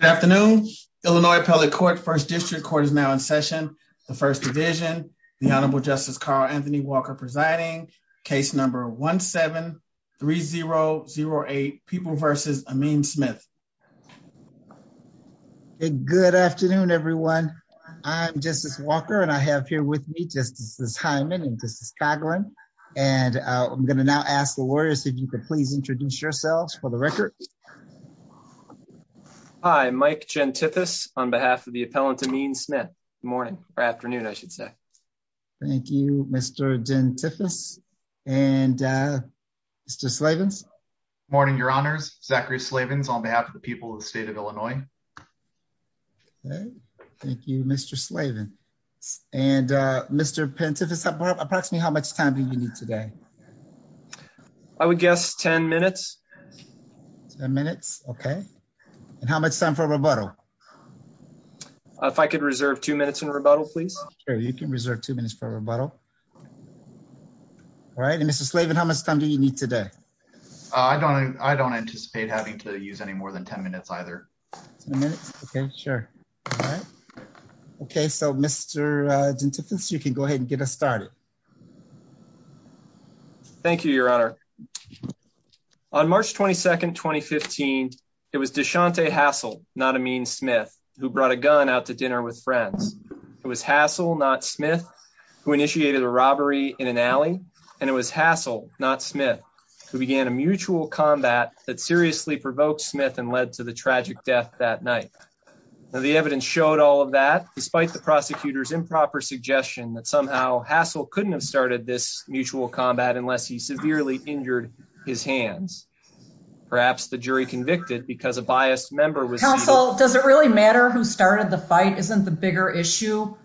Good afternoon. Illinois Appellate Court, First District Court is now in session. The First Division, the Honorable Justice Carl Anthony Walker presiding, case number 1-7-3008, People v. Amin Smith. Good afternoon, everyone. I'm Justice Walker, and I have here with me Justice Hyman and Justice Coghlan, and I'm going to now ask the lawyers if you could please introduce yourselves for the Mike Gentithis on behalf of the Appellant Amin Smith. Good morning, or afternoon, I should say. Thank you, Mr. Gentithis. And Mr. Slavens? Morning, Your Honors. Zachary Slavens on behalf of the people of the state of Illinois. Okay, thank you, Mr. Slavens. And Mr. Gentithis, approximately how much time do you need today? I would guess 10 minutes. 10 minutes, okay. And how much time for rebuttal? If I could reserve two minutes in rebuttal, please. Sure, you can reserve two minutes for rebuttal. All right. And Mr. Slavens, how much time do you need today? I don't anticipate having to use any more than 10 minutes either. 10 minutes? Okay, sure. All right. Okay, so Mr. Gentithis, you can go ahead and get us started. Thank you, Your Honor. On March 22nd, 2015, it was Deshante Hassel, not Amin Smith, who brought a gun out to dinner with friends. It was Hassel, not Smith, who initiated a robbery in an alley. And it was Hassel, not Smith, who began a mutual combat that seriously provoked Smith and led to the tragic death that night. Now, the evidence showed all of that, despite the prosecutor's improper suggestion that somehow Hassel couldn't have started this mutual combat unless he severely injured his hands. Perhaps the jury convicted because a biased member was- Counsel, does it really matter who started the fight? Isn't the bigger issue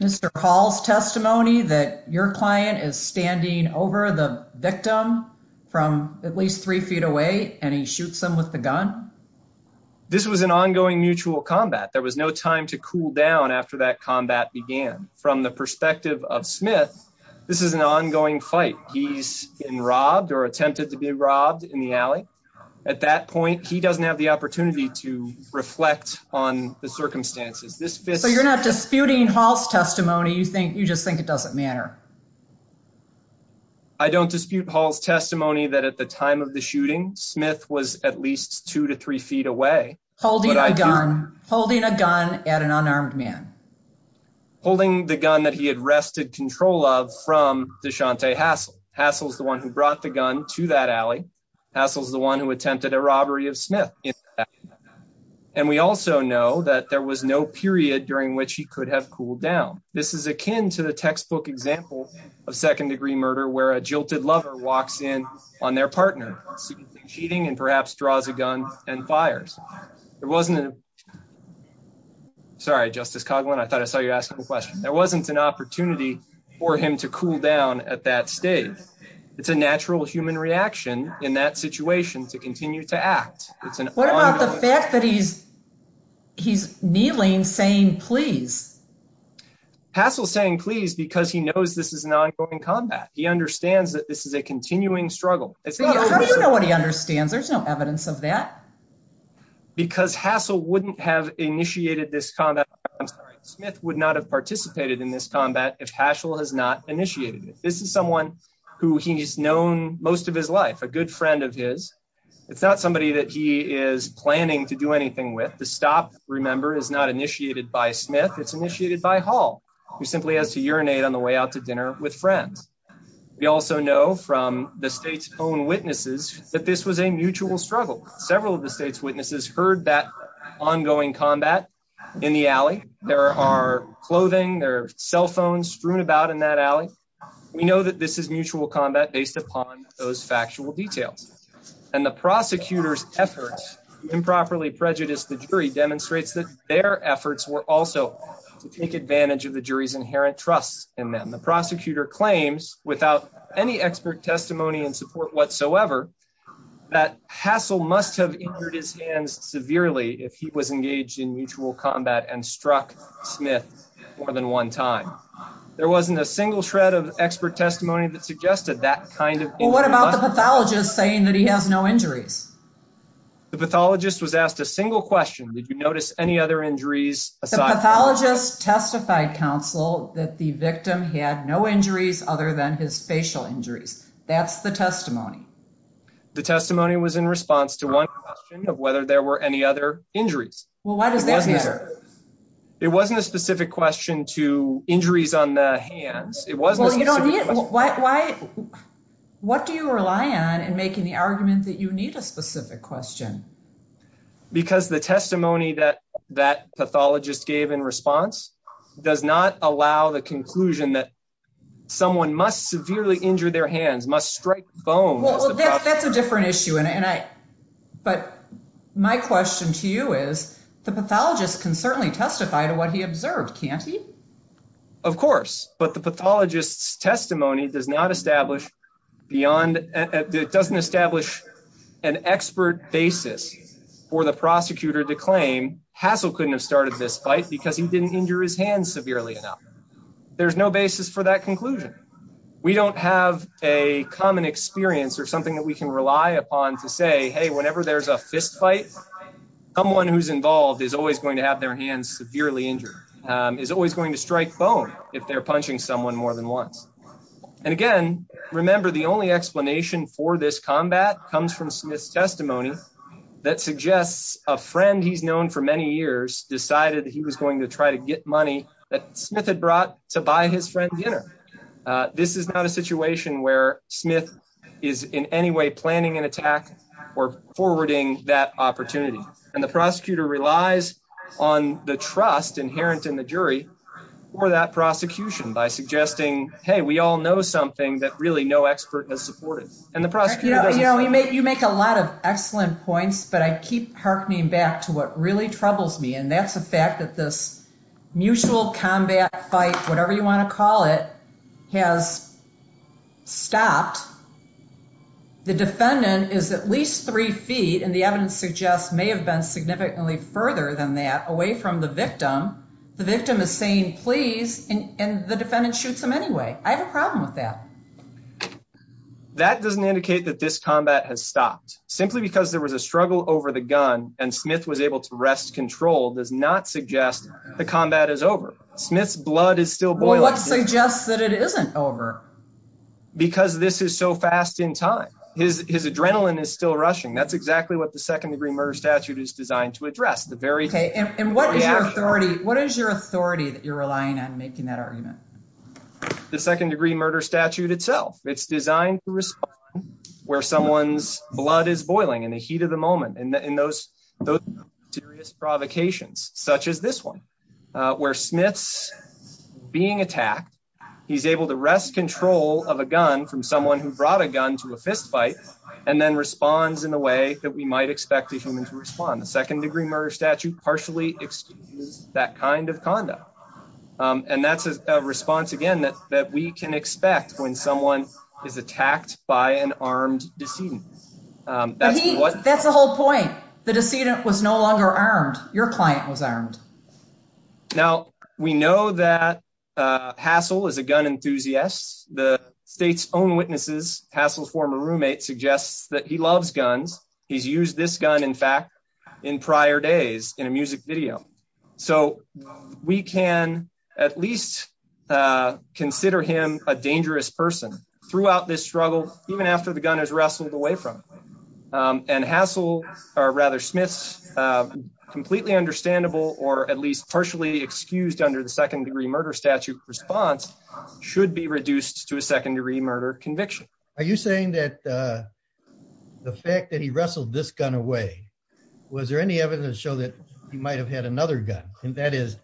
Mr. Hall's testimony that your client is standing over the victim from at least three feet away and shoots him with the gun? This was an ongoing mutual combat. There was no time to cool down after that combat began. From the perspective of Smith, this is an ongoing fight. He's been robbed or attempted to be robbed in the alley. At that point, he doesn't have the opportunity to reflect on the circumstances. So you're not disputing Hall's testimony, you just think it doesn't matter? I don't dispute Hall's testimony that at the time of the shooting, Smith was at least two to three feet away. Holding a gun, holding a gun at an unarmed man. Holding the gun that he had wrested control of from Deshante Hassel. Hassel's the one who brought the gun to that alley. Hassel's the one who attempted a robbery of Smith. And we also know that there was no period during which he could have cooled down. This is akin to the textbook example of second-degree murder where a jilted lover walks in on their partner, seemingly cheating, and perhaps draws a gun and fires. There wasn't an... Sorry, Justice Coghlan, I thought I saw you ask a question. There wasn't an opportunity for him to cool down at that stage. It's a natural human reaction in that situation to continue to act. It's an... What about the fact that he's kneeling saying please? Hassel's saying please because he knows this is an ongoing combat. He understands that this is a continuing struggle. How do you know what he understands? There's no evidence of that. Because Hassel wouldn't have initiated this combat. I'm sorry, Smith would not have participated in this combat if Hassel has not initiated it. This is someone who he's known most of his life, a good friend of his. It's not somebody that he is planning to do anything with. The stop, remember, is not initiated by Smith. It's initiated by Hall, who simply has to urinate on the way out to dinner with friends. We also know from the state's own witnesses that this was a mutual struggle. Several of the state's witnesses heard that ongoing combat in the alley. There are clothing, there are cell phones strewn about in that alley. We know that this is mutual combat based upon those factual details. And the prosecutor's efforts to improperly prejudice the jury demonstrates that their efforts were also to take advantage of the jury's inherent trust in them. The prosecutor claims, without any expert testimony and support whatsoever, that Hassel must have injured his hands severely if he was engaged in mutual combat and struck Smith more than one time. There wasn't a single shred of expert testimony that suggested that kind of... Well, what about the pathologist saying that he has no injuries? The pathologist was asked a single question. Did you notice any other injuries? The pathologist testified, counsel, that the victim had no injuries other than his facial injuries. That's the testimony. The testimony was in response to one question of whether there were any other injuries. Well, why does that matter? It wasn't a specific question to injuries on the hands. What do you rely on in making the argument that you need a specific question? Because the testimony that that pathologist gave in response does not allow the conclusion that someone must severely injure their hands, must strike bones. Well, that's a different issue. But my question to you is, the pathologist can certainly testify to what he observed, can't he? Of course. But the pathologist's testimony does not establish beyond... It doesn't establish an expert basis for the prosecutor to claim, Hassell couldn't have started this fight because he didn't injure his hands severely enough. There's no basis for that conclusion. We don't have a common experience or something that we can rely upon to say, hey, whenever there's a fistfight, someone who's involved is always going to have their hands severely injured, is always going to strike bone if they're punching someone more than once. And again, remember, the only explanation for this combat comes from Smith's testimony that suggests a friend he's known for many years decided that he was going to try to get money that Smith had brought to buy his friend dinner. This is not a situation where Smith is in any way planning an attack or forwarding that opportunity. And the prosecutor relies on the hey, we all know something that really no expert has supported. And the prosecutor doesn't... You make a lot of excellent points, but I keep harkening back to what really troubles me. And that's the fact that this mutual combat fight, whatever you want to call it, has stopped. The defendant is at least three feet, and the evidence suggests may have been significantly further than that, away from the victim. The victim is saying please, and the defendant shoots him anyway. I have a problem with that. That doesn't indicate that this combat has stopped. Simply because there was a struggle over the gun and Smith was able to wrest control does not suggest the combat is over. Smith's blood is still boiling. What suggests that it isn't over? Because this is so fast in time. His adrenaline is still rushing. That's exactly what the second degree murder statute is designed to address. And what is your authority that you're relying on making that argument? The second degree murder statute itself. It's designed to respond where someone's blood is boiling in the heat of the moment, in those serious provocations, such as this one, where Smith's being attacked, he's able to wrest control of a gun from someone who brought a gun to a fistfight, and then responds in a way that we might expect a human to respond. The second degree murder statute partially excuses that kind of conduct. And that's a response, again, that we can expect when someone is attacked by an armed decedent. That's the whole point. The decedent was no longer armed. Your client was armed. Now, we know that Hassel is a gun enthusiast. The state's own witnesses, Hassel's former roommate, suggests that he loves guns. He's used this gun, in fact, in prior days in a music video. So we can at least consider him a dangerous person throughout this struggle, even after the gun is wrestled away from him. And Hassel, or rather, Smith's completely understandable, or at least partially excused under the second degree murder statute response, should be reduced to a second degree murder conviction. Are you saying that the fact that he wrestled this gun away, was there any evidence to show that he might have had another gun? And that is,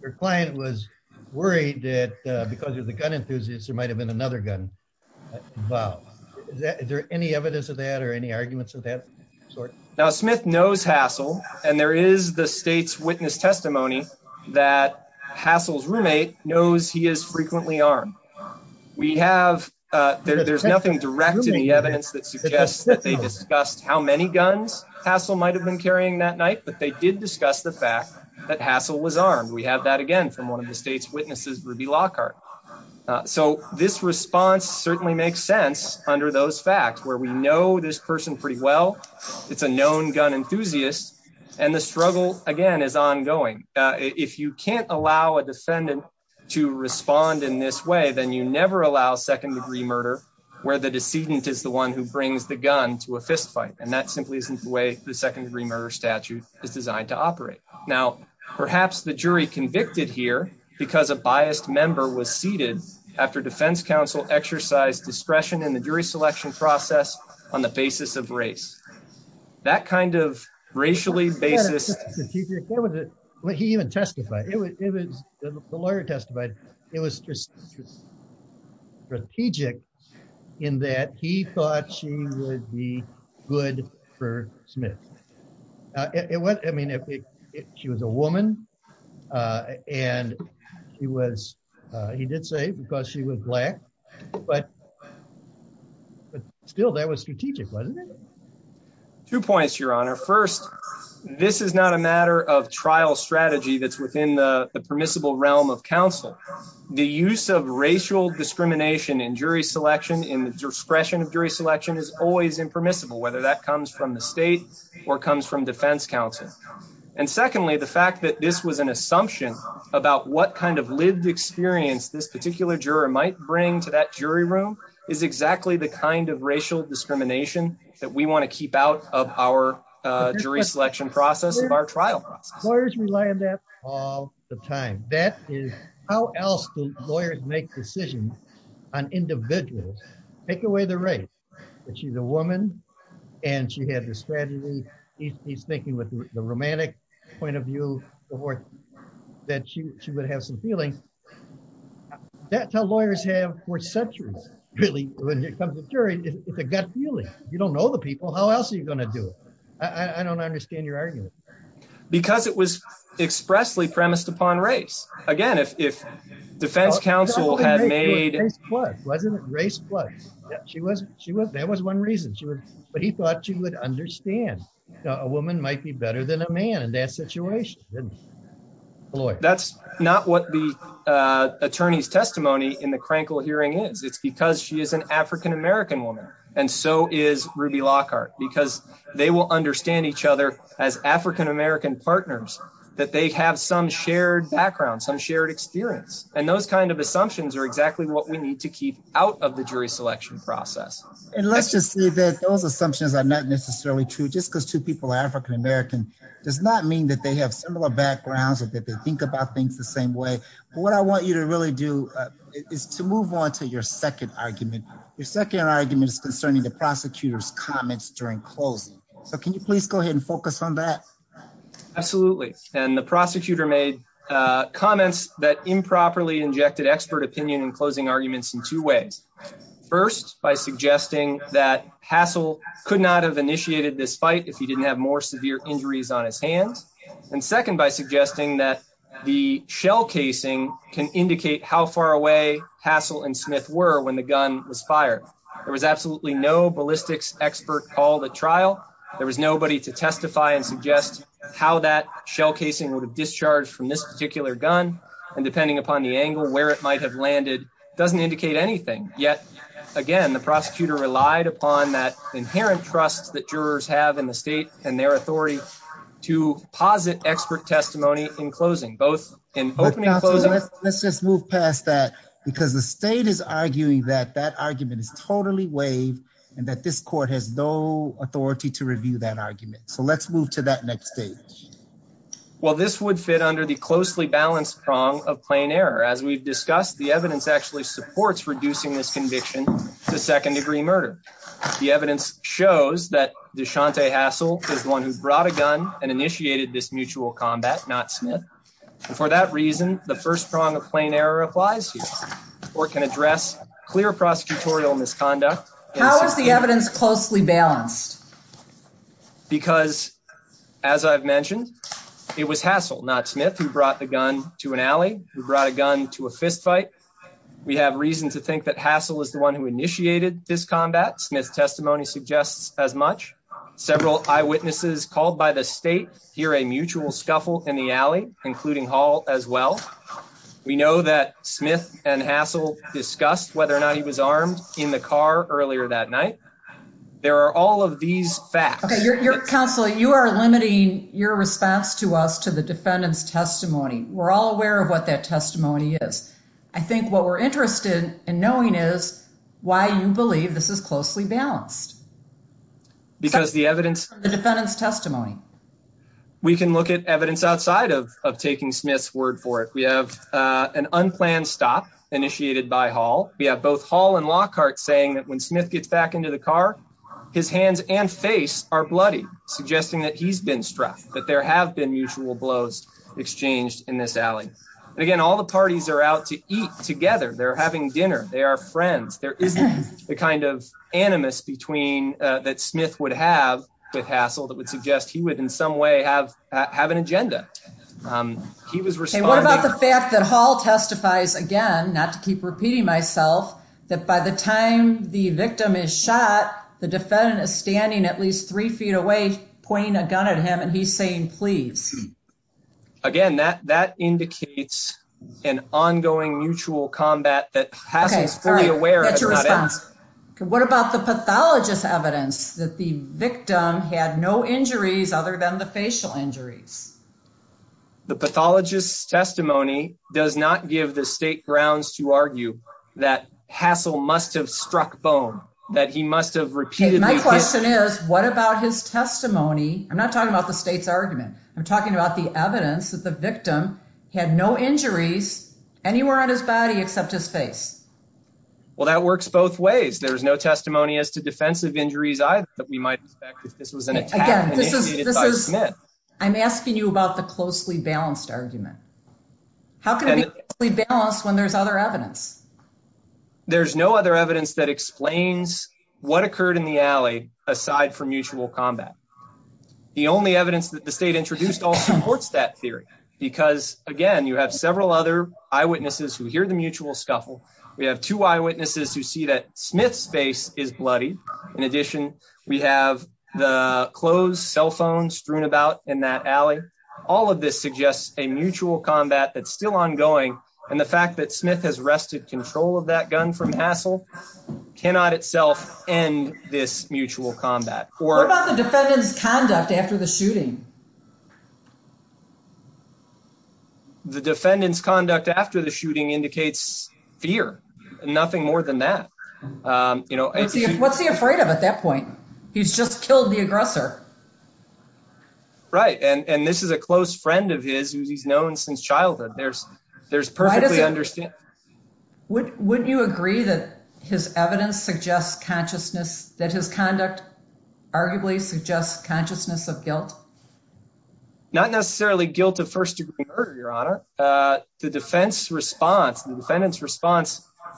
your client was worried that because of the gun enthusiast, there might have been another gun involved. Is there any evidence of that, or any arguments of that sort? Now, Smith knows Hassel, and there is the state's witness testimony that Hassel's roommate knows he is frequently armed. There's nothing direct in the evidence that suggests that they discussed how many guns Hassel might have been carrying that night, but they did discuss the fact that Hassel was armed. We have that again from one of the state's witnesses, Ruby Lockhart. So this response certainly makes sense under those facts, where we know this person pretty well. It's a known gun enthusiast, and the struggle, again, is ongoing. If you can't allow a defendant to respond in this way, then you never allow second degree murder, where the decedent is the one who brings the gun to a fistfight, and that simply isn't the way the second degree murder statute is designed to operate. Now, perhaps the jury convicted here because a biased member was seated after defense counsel exercised discretion in the jury selection process on the basis of race. That kind of racially basis... It wasn't just strategic. He even testified. The lawyer testified. It was strategic in that he thought she would be good for Smith. I mean, she was a woman, and he did say because she was Black, but still, that was strategic, wasn't it? Two points, Your Honor. First, this is not a matter of trial strategy that's within the permissible realm of counsel. The use of racial discrimination in jury selection, in the discretion of jury selection, is always impermissible, whether that comes from the state or comes from defense counsel. And secondly, the fact that this was an assumption about what kind of lived experience this particular juror might bring to that jury room is exactly the kind of racial discrimination that we want to keep out of our jury selection process, of our trial process. Lawyers rely on that all the time. That is... How else do lawyers make decisions on individuals? Take away the race, that she's a woman, and she had a strategy. He's thinking with the romantic point of view that she would have some feelings. That's how lawyers have for centuries, really, when it comes to the jury. It's a gut feeling. You don't know the people. How else are you going to do it? I don't understand your argument. Because it was expressly premised upon race. Again, if defense counsel had made... Race was. That was one reason. But he thought she would understand. A woman might be better than a man in that situation, didn't she? That's not what the attorney's testimony in the Crankle hearing is. It's because she is an African-American woman, and so is Ruby Lockhart, because they will understand each other as African-American partners, that they have some shared background, some shared experience. And those kind of assumptions are exactly what we need to keep out of the jury selection process. And let's just say that those assumptions are not necessarily true, just because two people are African-American does not mean that they have similar backgrounds or that they think about things the same way. But what I want you to really do is to move on to your second argument. Your second argument is concerning the prosecutor's comments during closing. So can you please go ahead and focus on that? Absolutely. And the two ways. First, by suggesting that Hassel could not have initiated this fight if he didn't have more severe injuries on his hands. And second, by suggesting that the shell casing can indicate how far away Hassel and Smith were when the gun was fired. There was absolutely no ballistics expert called at trial. There was nobody to testify and suggest how that shell casing would have discharged from this particular gun. And depending upon the angle where it might have anything. Yet again, the prosecutor relied upon that inherent trust that jurors have in the state and their authority to posit expert testimony in closing both in opening. Let's just move past that because the state is arguing that that argument is totally waived and that this court has no authority to review that argument. So let's move to that next stage. Well, this would fit under the closely balanced prong of plain error. As we've discussed, the evidence actually supports reducing this conviction to second degree murder. The evidence shows that Deshante Hassel is the one who brought a gun and initiated this mutual combat, not Smith. And for that reason, the first prong of plain error applies here. Court can address clear prosecutorial misconduct. How is the evidence closely balanced? Because as I've mentioned, it was Hassel, not Smith, who brought the gun to an alley, who brought a gun to a fistfight. We have reason to think that Hassel is the one who initiated this combat. Smith's testimony suggests as much. Several eyewitnesses called by the state hear a mutual scuffle in the alley, including Hall as well. We know that Smith and Hassel discussed whether or not he was armed in the car earlier that night. There are all of these facts. Okay, your counsel, you are limiting your response to us to the defendant's testimony. We're all aware of what that testimony is. I think what we're interested in knowing is why you believe this is closely balanced. Because the evidence. The defendant's testimony. We can look at evidence outside of taking Smith's word for it. We have an unplanned stop initiated by Hall. We have both Hall and Lockhart saying that when Smith gets back into the car, his hands and face are bloody, suggesting that he's been struck, that there have been mutual blows exchanged in this alley. And again, all the parties are out to eat together. They're having dinner. They are friends. There isn't the kind of animus between that Smith would have with Hassel that would suggest he would in some way have have an agenda. He was responding. What about the fact that Hall testifies again, not to keep repeating myself, that by the time the victim is shot, the defendant is standing at least three feet away, pointing a gun at him, he's saying please. Again, that indicates an ongoing mutual combat that Hassel is fully aware. What about the pathologist's evidence that the victim had no injuries other than the facial injuries? The pathologist's testimony does not give the state grounds to argue that Hassel must have struck bone, that he must have repeatedly. My question is, what about his testimony? I'm not talking about the state's argument. I'm talking about the evidence that the victim had no injuries anywhere on his body except his face. Well, that works both ways. There's no testimony as to defensive injuries either that we might expect if this was an attack. I'm asking you about the closely balanced argument. How can we balance when there's other evidence? There's no other evidence that explains what occurred in the alley aside from mutual combat. The only evidence that the state introduced also supports that theory because again, you have several other eyewitnesses who hear the mutual scuffle. We have two eyewitnesses who see that Smith's face is bloody. In addition, we have the clothes, cell phones strewn about in that alley. All of this suggests a mutual combat that's still ongoing and the fact that Smith has wrested control of that gun from Hassel cannot itself end this mutual combat. What about the defendant's conduct after the shooting? The defendant's conduct after the shooting indicates fear. Nothing more than that. What's he afraid of at that point? He's just killed the aggressor. Right, and this is a close friend of his who he's known since childhood. Wouldn't you agree that his conduct arguably suggests consciousness of guilt? Not necessarily guilt of first-degree murder, Your Honor. The defendant's response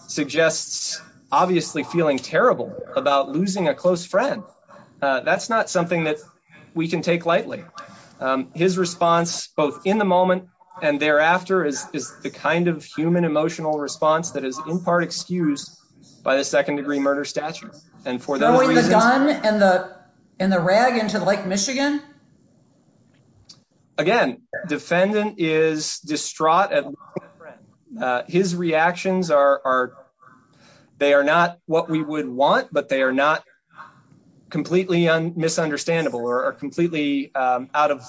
suggests obviously feeling terrible about losing a close friend. That's not something that we can take lightly. His response, both in the moment and thereafter, is the kind of human emotional response that is in part excused by the second-degree murder statute. And for those reasons... Throwing the gun and the rag into Lake Michigan? Again, the defendant is distraught at losing a friend. His reactions are not what we would want, but they are not completely misunderstandable or completely out of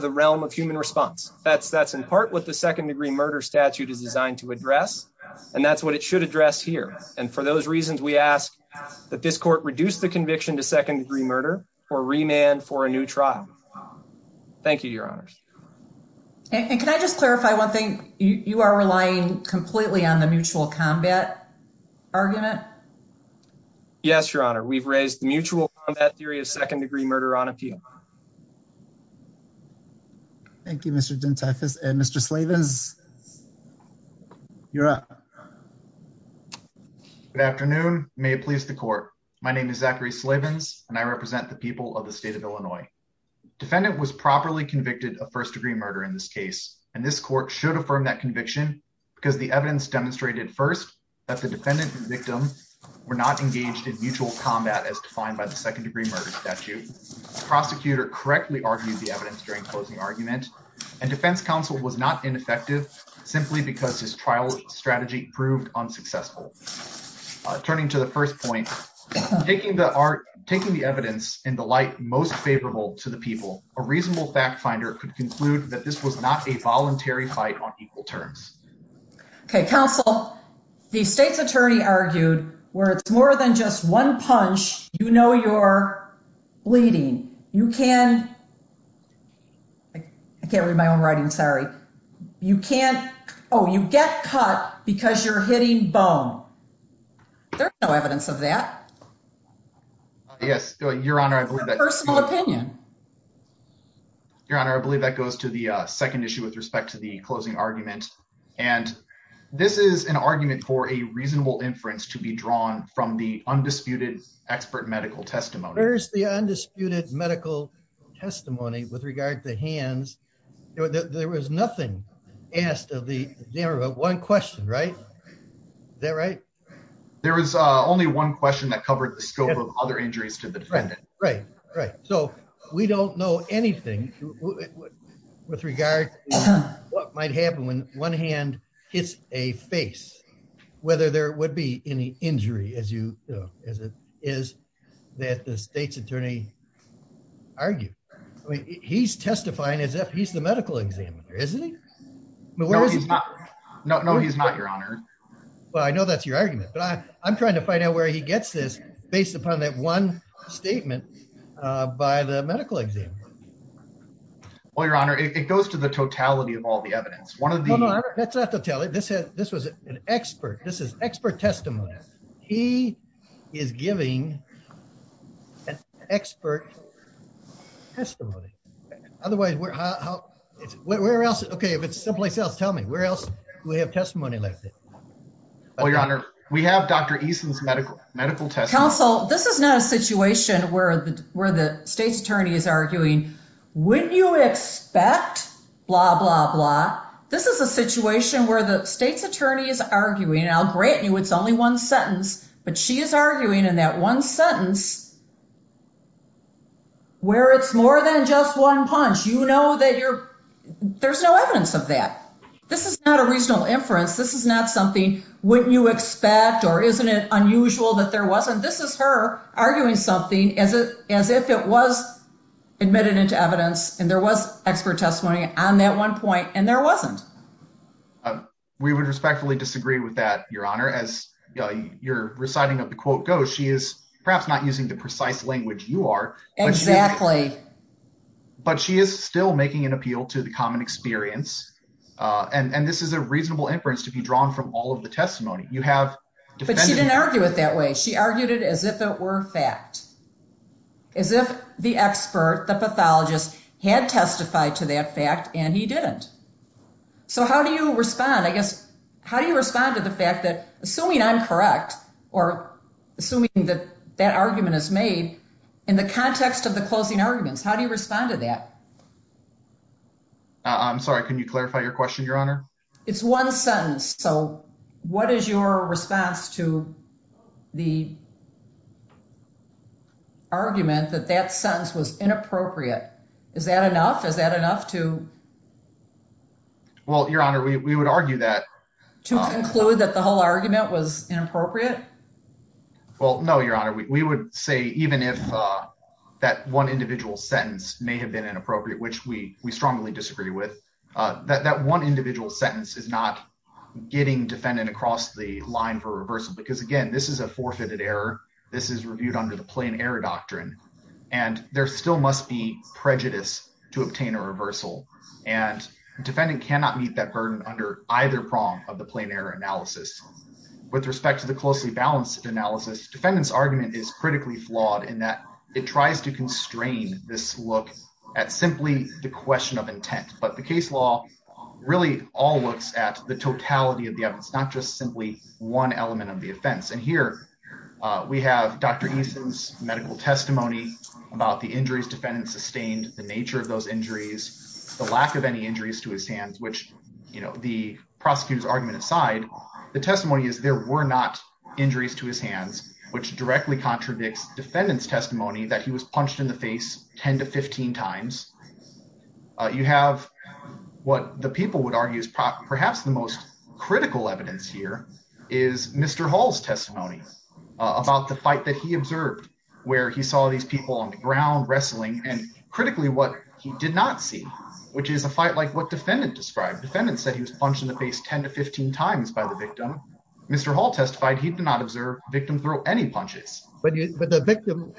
the realm of human response. That's in part what the second-degree murder statute is designed to address, and that's what it should address here. And for those reasons, we ask that this court reduce the conviction to second-degree murder or remand for a new trial. Thank you, Your Honors. And can I just clarify one thing? You are relying completely on the mutual combat argument? Yes, Your Honor. We've raised the mutual combat theory of second-degree murder on appeal. Thank you, Mr. Dentifus. And Mr. Slavins, you're up. Good afternoon. May it please the court. My name is Zachary Slavins, and I represent the people of the state of Illinois. Defendant was properly convicted of first-degree murder in this case, and this court should affirm that conviction because the evidence demonstrated first that the defendant and victim were not engaged in mutual combat as defined by the second-degree murder statute. The prosecutor correctly argued the evidence during closing argument, and defense counsel was not ineffective simply because his trial strategy proved unsuccessful. Turning to the first point, taking the evidence in the light most favorable to the people, a reasonable fact finder could conclude that this was not a voluntary fight on equal terms. Okay, counsel, the state's attorney argued where it's more than just one punch, you know you're bleeding. You can, I can't read my own writing, sorry. You can't, oh, you get cut because you're hitting bone. There's no evidence of that. Yes, Your Honor, I believe that goes to the second issue with respect to the closing argument, and this is an argument for a reasonable inference to be drawn from the undisputed expert medical testimony. Where's the undisputed medical testimony with regard to hands? There was nothing asked of the examiner but one question, right? Is that right? There was only one question that covered the scope of other injuries to the defendant. Right, right, so we don't know anything with regard to what might happen when one hand hits a face, whether there would be any injury as you know as it is that the state's attorney argued. He's testifying as if he's the medical examiner, isn't he? No, he's not. No, he's not, Your Honor. Well, I know that's your argument, but I'm trying to find out where he gets this based upon that one statement by the medical examiner. Well, Your Honor, it goes to the telly. This was an expert. This is expert testimony. He is giving an expert testimony. Otherwise, where else? Okay, if it's someplace else, tell me. Where else do we have testimony like this? Well, Your Honor, we have Dr. Eason's medical testimony. Counsel, this is not a situation where the state's attorney is arguing, wouldn't you expect blah, blah, blah? This is a situation where the state's attorney is arguing, and I'll grant you it's only one sentence, but she is arguing in that one sentence where it's more than just one punch. You know that there's no evidence of that. This is not a reasonable inference. This is not something wouldn't you expect or isn't it unusual that there wasn't? This is her arguing something as if it was admitted into evidence, and there was expert testimony on that one point, and there wasn't. We would respectfully disagree with that, Your Honor. As your reciting of the quote goes, she is perhaps not using the precise language you are. Exactly. But she is still making an appeal to the common experience, and this is a reasonable inference to be drawn from all of the testimony you have. But she didn't argue it that way. She argued it as if it were fact, as if the expert, the pathologist, had testified to that fact, and he didn't. So how do you respond? I guess, how do you respond to the fact that assuming I'm correct or assuming that that argument is made in the context of the closing arguments, how do you respond to that? I'm sorry. Can you clarify your question, Your Honor? It's one sentence. So what is your response to the argument that that sentence was inappropriate? Is that enough? Is that enough to... Well, Your Honor, we would argue that... To conclude that the whole argument was inappropriate? Well, no, Your Honor. We would say even if that one individual sentence may have been inappropriate, which we strongly disagree with, that one individual sentence is not getting defendant across the line for reversal. Because again, this is a forfeited error. This is reviewed under the plain error doctrine, and there still must be prejudice to obtain a reversal. And defendant cannot meet that burden under either prong of the plain error analysis. With respect to the closely balanced analysis, defendant's argument is critically flawed in that it tries to constrain this look at simply the question of intent. But the case law really all looks at the totality of the evidence, not just simply one element of the offense. And here, we have Dr. Eason's medical testimony about the injuries defendant sustained, the nature of those injuries, the lack of any injuries to his hands, which the prosecutor's argument aside, the testimony is there were not injuries to his hands, which directly contradicts defendant's testimony that he was punched in the face 10 to 15 times. You have what the people would argue is perhaps the most critical evidence here is Mr. Hall's testimony about the fight that he observed, where he saw these people on the ground wrestling, and critically what he did not see, which is a fight like what defendant described. Defendant said he was punched in the face 10 to 15 times by the victim. Mr. Hall testified he did not observe victim throw any punches. But the victim,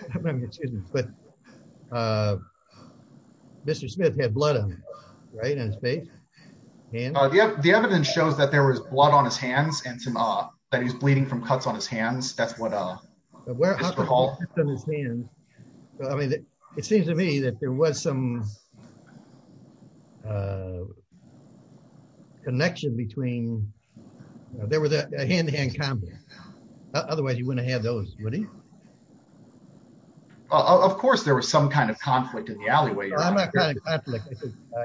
excuse me, but Mr. Smith had blood on him, right, on his face? The evidence shows that there was blood on his hands and some, that he's bleeding from cuts on his hands. That's what Mr. Hall- There were cuts on his hands. I mean, it seems to me that there was some connection between, there was a hand-to-hand combat. Otherwise you wouldn't have those, would he? Of course there was some kind of conflict in the alleyway.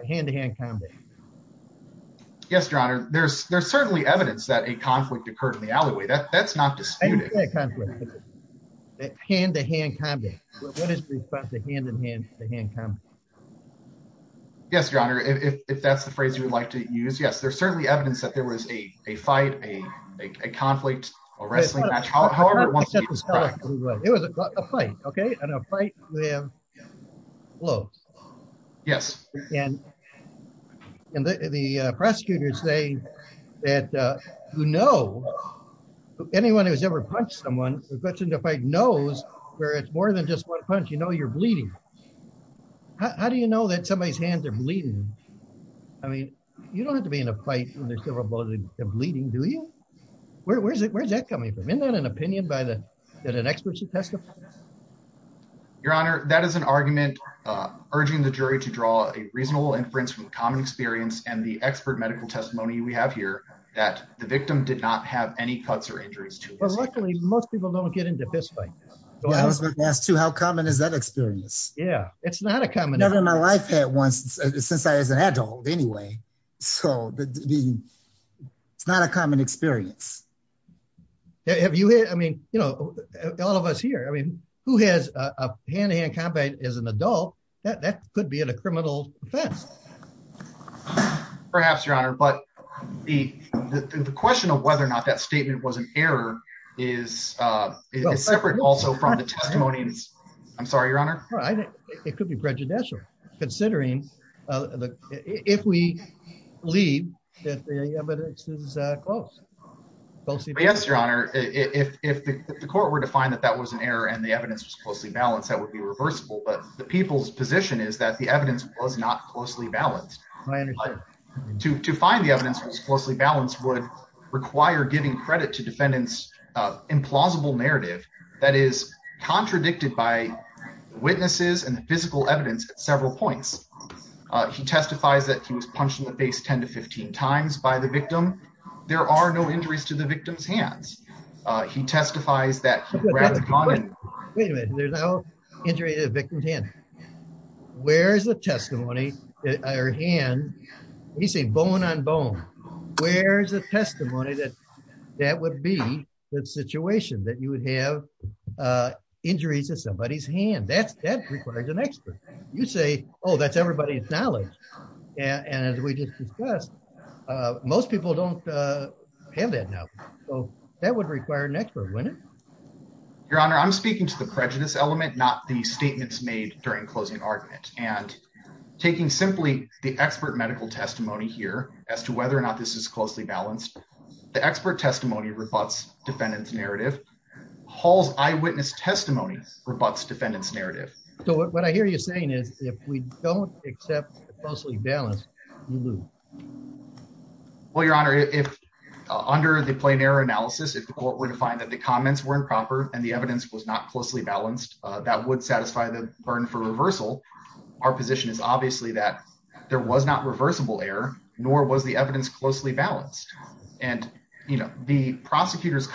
Hand-to-hand combat. Yes, Your Honor. There's certainly evidence that a conflict occurred in the alleyway. That's not disputed. Hand-to-hand combat. What is the response to hand-to-hand combat? Yes, Your Honor. If that's the phrase you would like to use, yes, there's certainly evidence that there was a fight, a conflict, a wrestling match. However, it was a fight, okay, and a fight with clothes. Yes. And the prosecutors say that, you know, anyone who's ever punched someone, the question to fight knows where it's more than just one punch, you know, you're bleeding. How do you know that somebody's hands are bleeding? I mean, you don't have to be in a fight when there's several bullets bleeding, do you? Where's that coming from? Isn't that an opinion that an expert should testify? Your Honor, that is an argument urging the jury to draw a reasonable inference from the common experience and the expert medical testimony we have here that the victim did not have any cuts or injuries. Well, luckily most people don't get into fist fights. I was going to ask, too, how common is that experience? Yeah, it's not a common experience. I've never in my life had one since I was an adult anyway, so it's not a common experience. Have you had, I mean, you know, all of us here, I mean, who has a hand-to-hand combat as an adult? That could be a criminal offense. Perhaps, Your Honor, but the question of whether or not that statement was an error is separate also from the testimony. I'm sorry, Your Honor. It could be prejudicial considering if we believe that the evidence is close. Yes, Your Honor, if the court were to find that that was an error and the evidence was closely balanced, that would be reversible, but the people's position is that the evidence was not closely balanced. To find the evidence was closely balanced would require giving credit to and physical evidence at several points. He testifies that he was punched in the face 10 to 15 times by the victim. There are no injuries to the victim's hands. He testifies that he grabbed the gun. Wait a minute, there's no injury to the victim's hand. Where's the testimony that her hand, when you say bone on bone, where's the testimony that that would be the situation, that you would have injuries to somebody's hand? That requires an expert. You say, oh, that's everybody's knowledge, and as we just discussed, most people don't have that now, so that would require an expert, wouldn't it? Your Honor, I'm speaking to the prejudice element, not the statements made during closing argument, and taking simply the expert medical testimony here as to whether or not this is closely balanced, the expert testimony rebutts defendant's Hall's eyewitness testimony, rebutts defendant's narrative. So what I hear you saying is if we don't accept the closely balanced, you lose. Well, Your Honor, if under the plain error analysis, if the court were to find that the comments were improper and the evidence was not closely balanced, that would satisfy the burden for reversal. Our position is obviously that there was not reversible error, nor was the evidence closely balanced, and the prosecutor's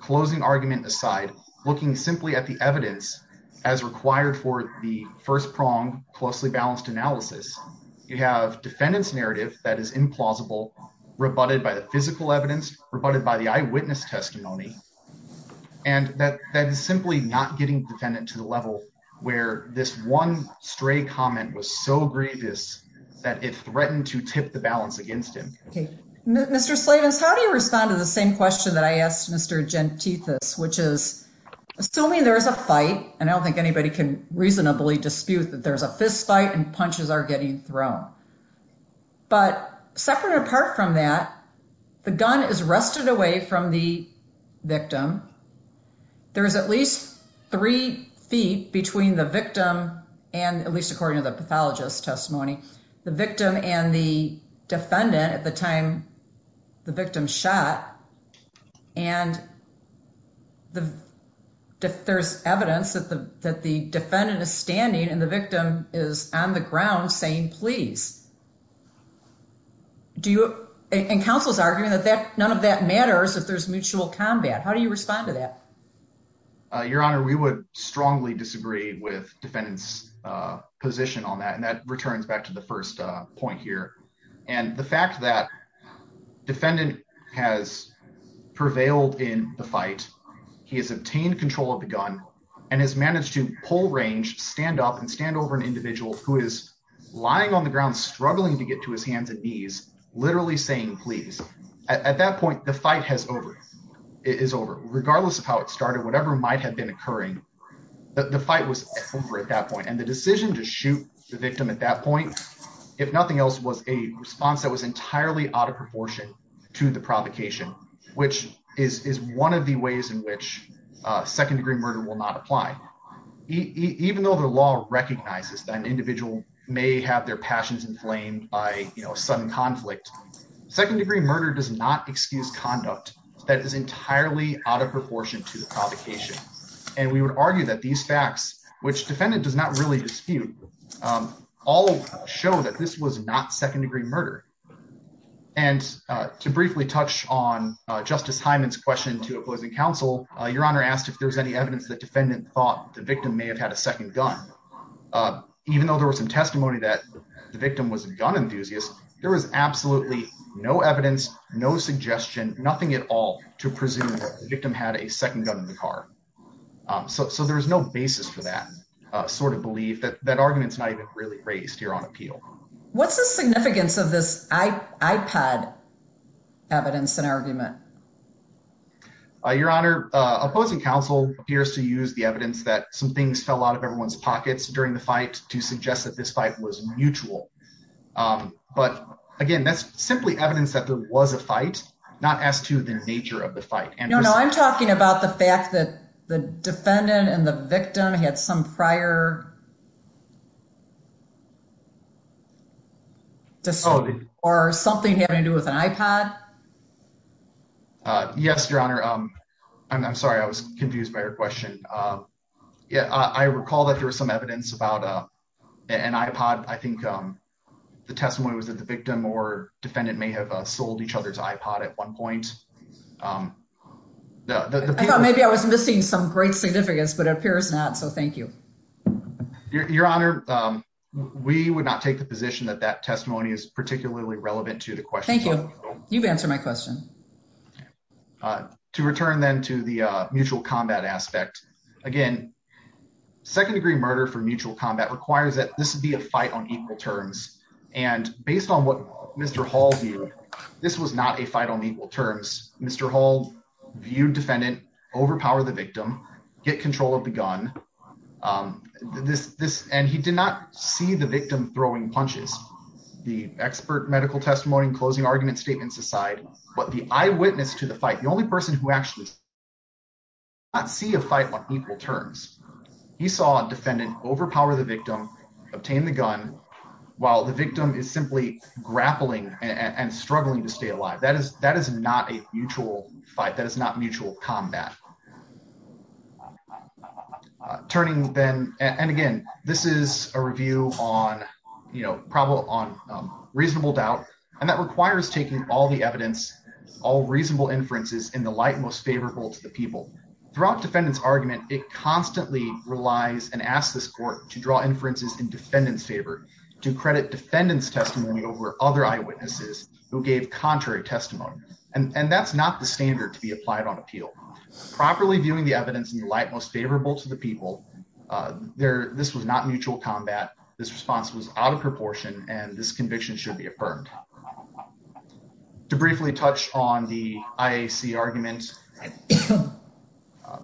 closing argument aside, looking simply at the evidence as required for the first prong closely balanced analysis, you have defendant's narrative that is implausible, rebutted by the physical evidence, rebutted by the eyewitness testimony, and that is simply not getting defendant to the level where this one stray comment was so grievous that it threatened to tip the balance against him. Mr. Slavens, how do you respond to the same question that I asked Mr. Gentithis, which is assuming there is a fight, and I don't think anybody can reasonably dispute that there's a fistfight and punches are getting thrown. But separate and apart from that, the gun is rested away from the victim. There is at least three feet between the victim and, at least the victim's shot, and there's evidence that the defendant is standing and the victim is on the ground saying, please. And counsel's arguing that none of that matters if there's mutual combat. How do you respond to that? Your Honor, we would strongly disagree with defendant's position on that, and that returns back to the first point here. And the fact that defendant has prevailed in the fight, he has obtained control of the gun, and has managed to pull range, stand up, and stand over an individual who is lying on the ground struggling to get to his hands and knees, literally saying, please. At that point, the fight is over. Regardless of how it started, whatever might have been occurring, the fight was over at that point. And the decision to shoot the victim at that point, if nothing else, was a response that was entirely out of proportion to the provocation, which is one of the ways in which second-degree murder will not apply. Even though the law recognizes that an individual may have their passions inflamed by a sudden conflict, second-degree murder does not excuse conduct that is entirely out of proportion to the provocation. And we would argue that these facts, which defendant does not really dispute, all show that this was not second-degree murder. And to briefly touch on Justice Hyman's question to opposing counsel, your honor asked if there's any evidence that defendant thought the victim may have had a second gun. Even though there was some testimony that the victim was a gun enthusiast, there was absolutely no evidence, no suggestion, nothing at all to presume that the victim had a really raised here on appeal. What's the significance of this iPad evidence and argument? Your honor, opposing counsel appears to use the evidence that some things fell out of everyone's pockets during the fight to suggest that this fight was mutual. But again, that's simply evidence that there was a fight, not as to the nature of the fight. No, no, I'm talking about the fact that the defendant and the victim had some prior or something having to do with an iPod. Yes, your honor. I'm sorry, I was confused by your question. Yeah, I recall that there was some evidence about an iPod. I think the testimony was that the victim or defendant may have sold each other's iPod at one point. I thought maybe I was missing some great significance, but it appears not. So thank you, your honor. We would not take the position that that testimony is particularly relevant to the question. Thank you. You've answered my question to return then to the mutual combat aspect. Again, second degree murder for mutual combat requires that this would be a fight on equal terms. And based on what Mr. Hall viewed, this was not a fight on equal terms. Mr. Hall viewed defendant overpower the victim, get control of the gun. And he did not see the victim throwing punches. The expert medical testimony and closing argument statements aside, but the eyewitness to the fight, the only person who actually did not see a fight on equal terms. He saw a defendant overpower the victim, obtain the gun, while the victim is simply grappling and struggling to stay alive. That is not a mutual fight. That is not mutual combat. Turning then, and again, this is a review on reasonable doubt, and that requires taking all the evidence, all reasonable inferences in the light, most favorable to the people throughout defendants argument. It constantly relies and ask this court to draw inferences in defendant's favor to credit defendants testimony over other eyewitnesses who gave contrary testimony. And that's not the standard to be applied on appeal properly viewing the evidence in the light, most favorable to the people there. This was not mutual combat. This response was out of proportion and this conviction should be affirmed. To briefly touch on the IAC argument,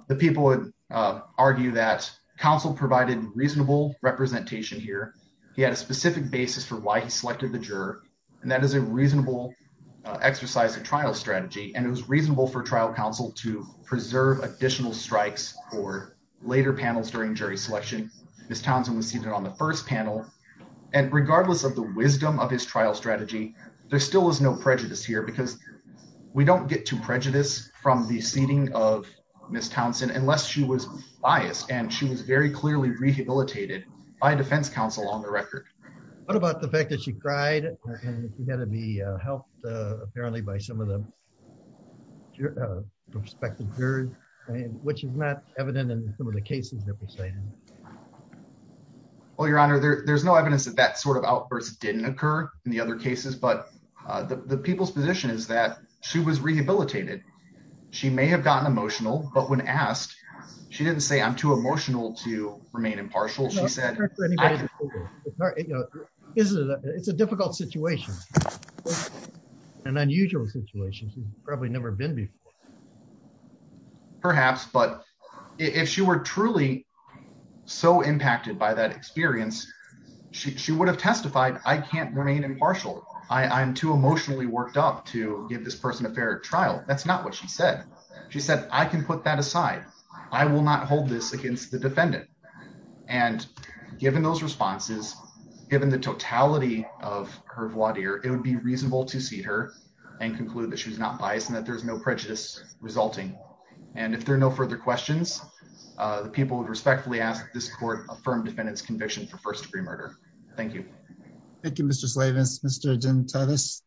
the people would argue that counsel provided reasonable representation here. He had a specific basis for why he selected the juror. And that is a reasonable exercise of trial strategy. And it was reasonable for trial counsel to preserve additional strikes for later panels during jury selection. Ms. Townsend was seated on the first panel. And regardless of the wisdom of his trial strategy, there still was no prejudice here because we don't get to prejudice from the seating of Ms. Townsend unless she was biased and she was very clearly rehabilitated by defense counsel on the record. What about the fact that she cried and had to be helped apparently by some of the prospective jurors, which is not evident in some cases that we say. Well, your honor, there's no evidence that that sort of outburst didn't occur in the other cases, but the people's position is that she was rehabilitated. She may have gotten emotional, but when asked, she didn't say I'm too emotional to remain impartial. She said, it's a difficult situation and unusual situation. She's probably never been before. Perhaps, but if she were truly so impacted by that experience, she would have testified, I can't remain impartial. I'm too emotionally worked up to give this person a fair trial. That's not what she said. She said, I can put that aside. I will not hold this against the defendant. And given those responses, given the totality of her voir dire, it would be reasonable to seat her and conclude that she was not biased and that there's no prejudice resulting. And if there are no further questions, the people would respectfully ask this court affirm defendant's conviction for first degree murder. Thank you. Thank you, Mr. Slavens. Mr. Jim Titus.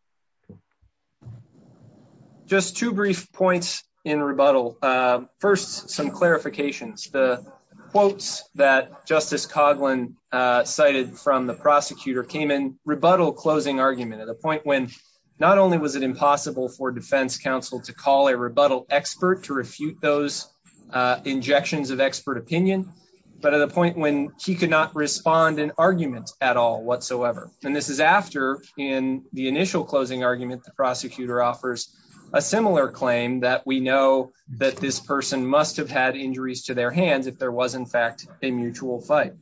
Just two brief points in rebuttal. First, some clarifications. The quotes that Justice Coughlin cited from the prosecutor came in rebuttal closing argument at a point when not only was it impossible for defense counsel to call a rebuttal expert to refute those injections of expert opinion, but at a point when he could not respond in argument at all whatsoever. And this is after in the initial closing argument, the prosecutor offers a similar claim that we know that this person must have had injuries to their hands if there was in fact a mutual fight.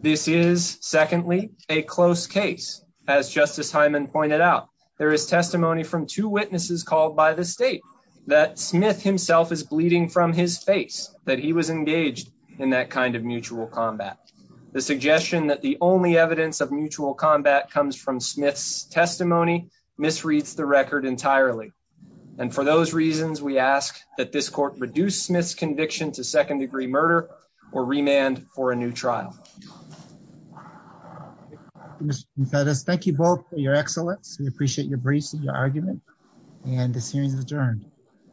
This is secondly a close case. As Justice Hyman pointed out, there is testimony from two witnesses called by the state that Smith himself is bleeding from his face, that he was engaged in that kind of mutual combat. The suggestion that the only evidence of mutual combat comes from Smith's testimony misreads the record entirely. And for those reasons, we ask that this court reduce Smith's conviction to second degree murder or remand for a new trial. Mr. Jim Titus, thank you both for your excellence. We appreciate your briefs and your argument. And the hearing is adjourned.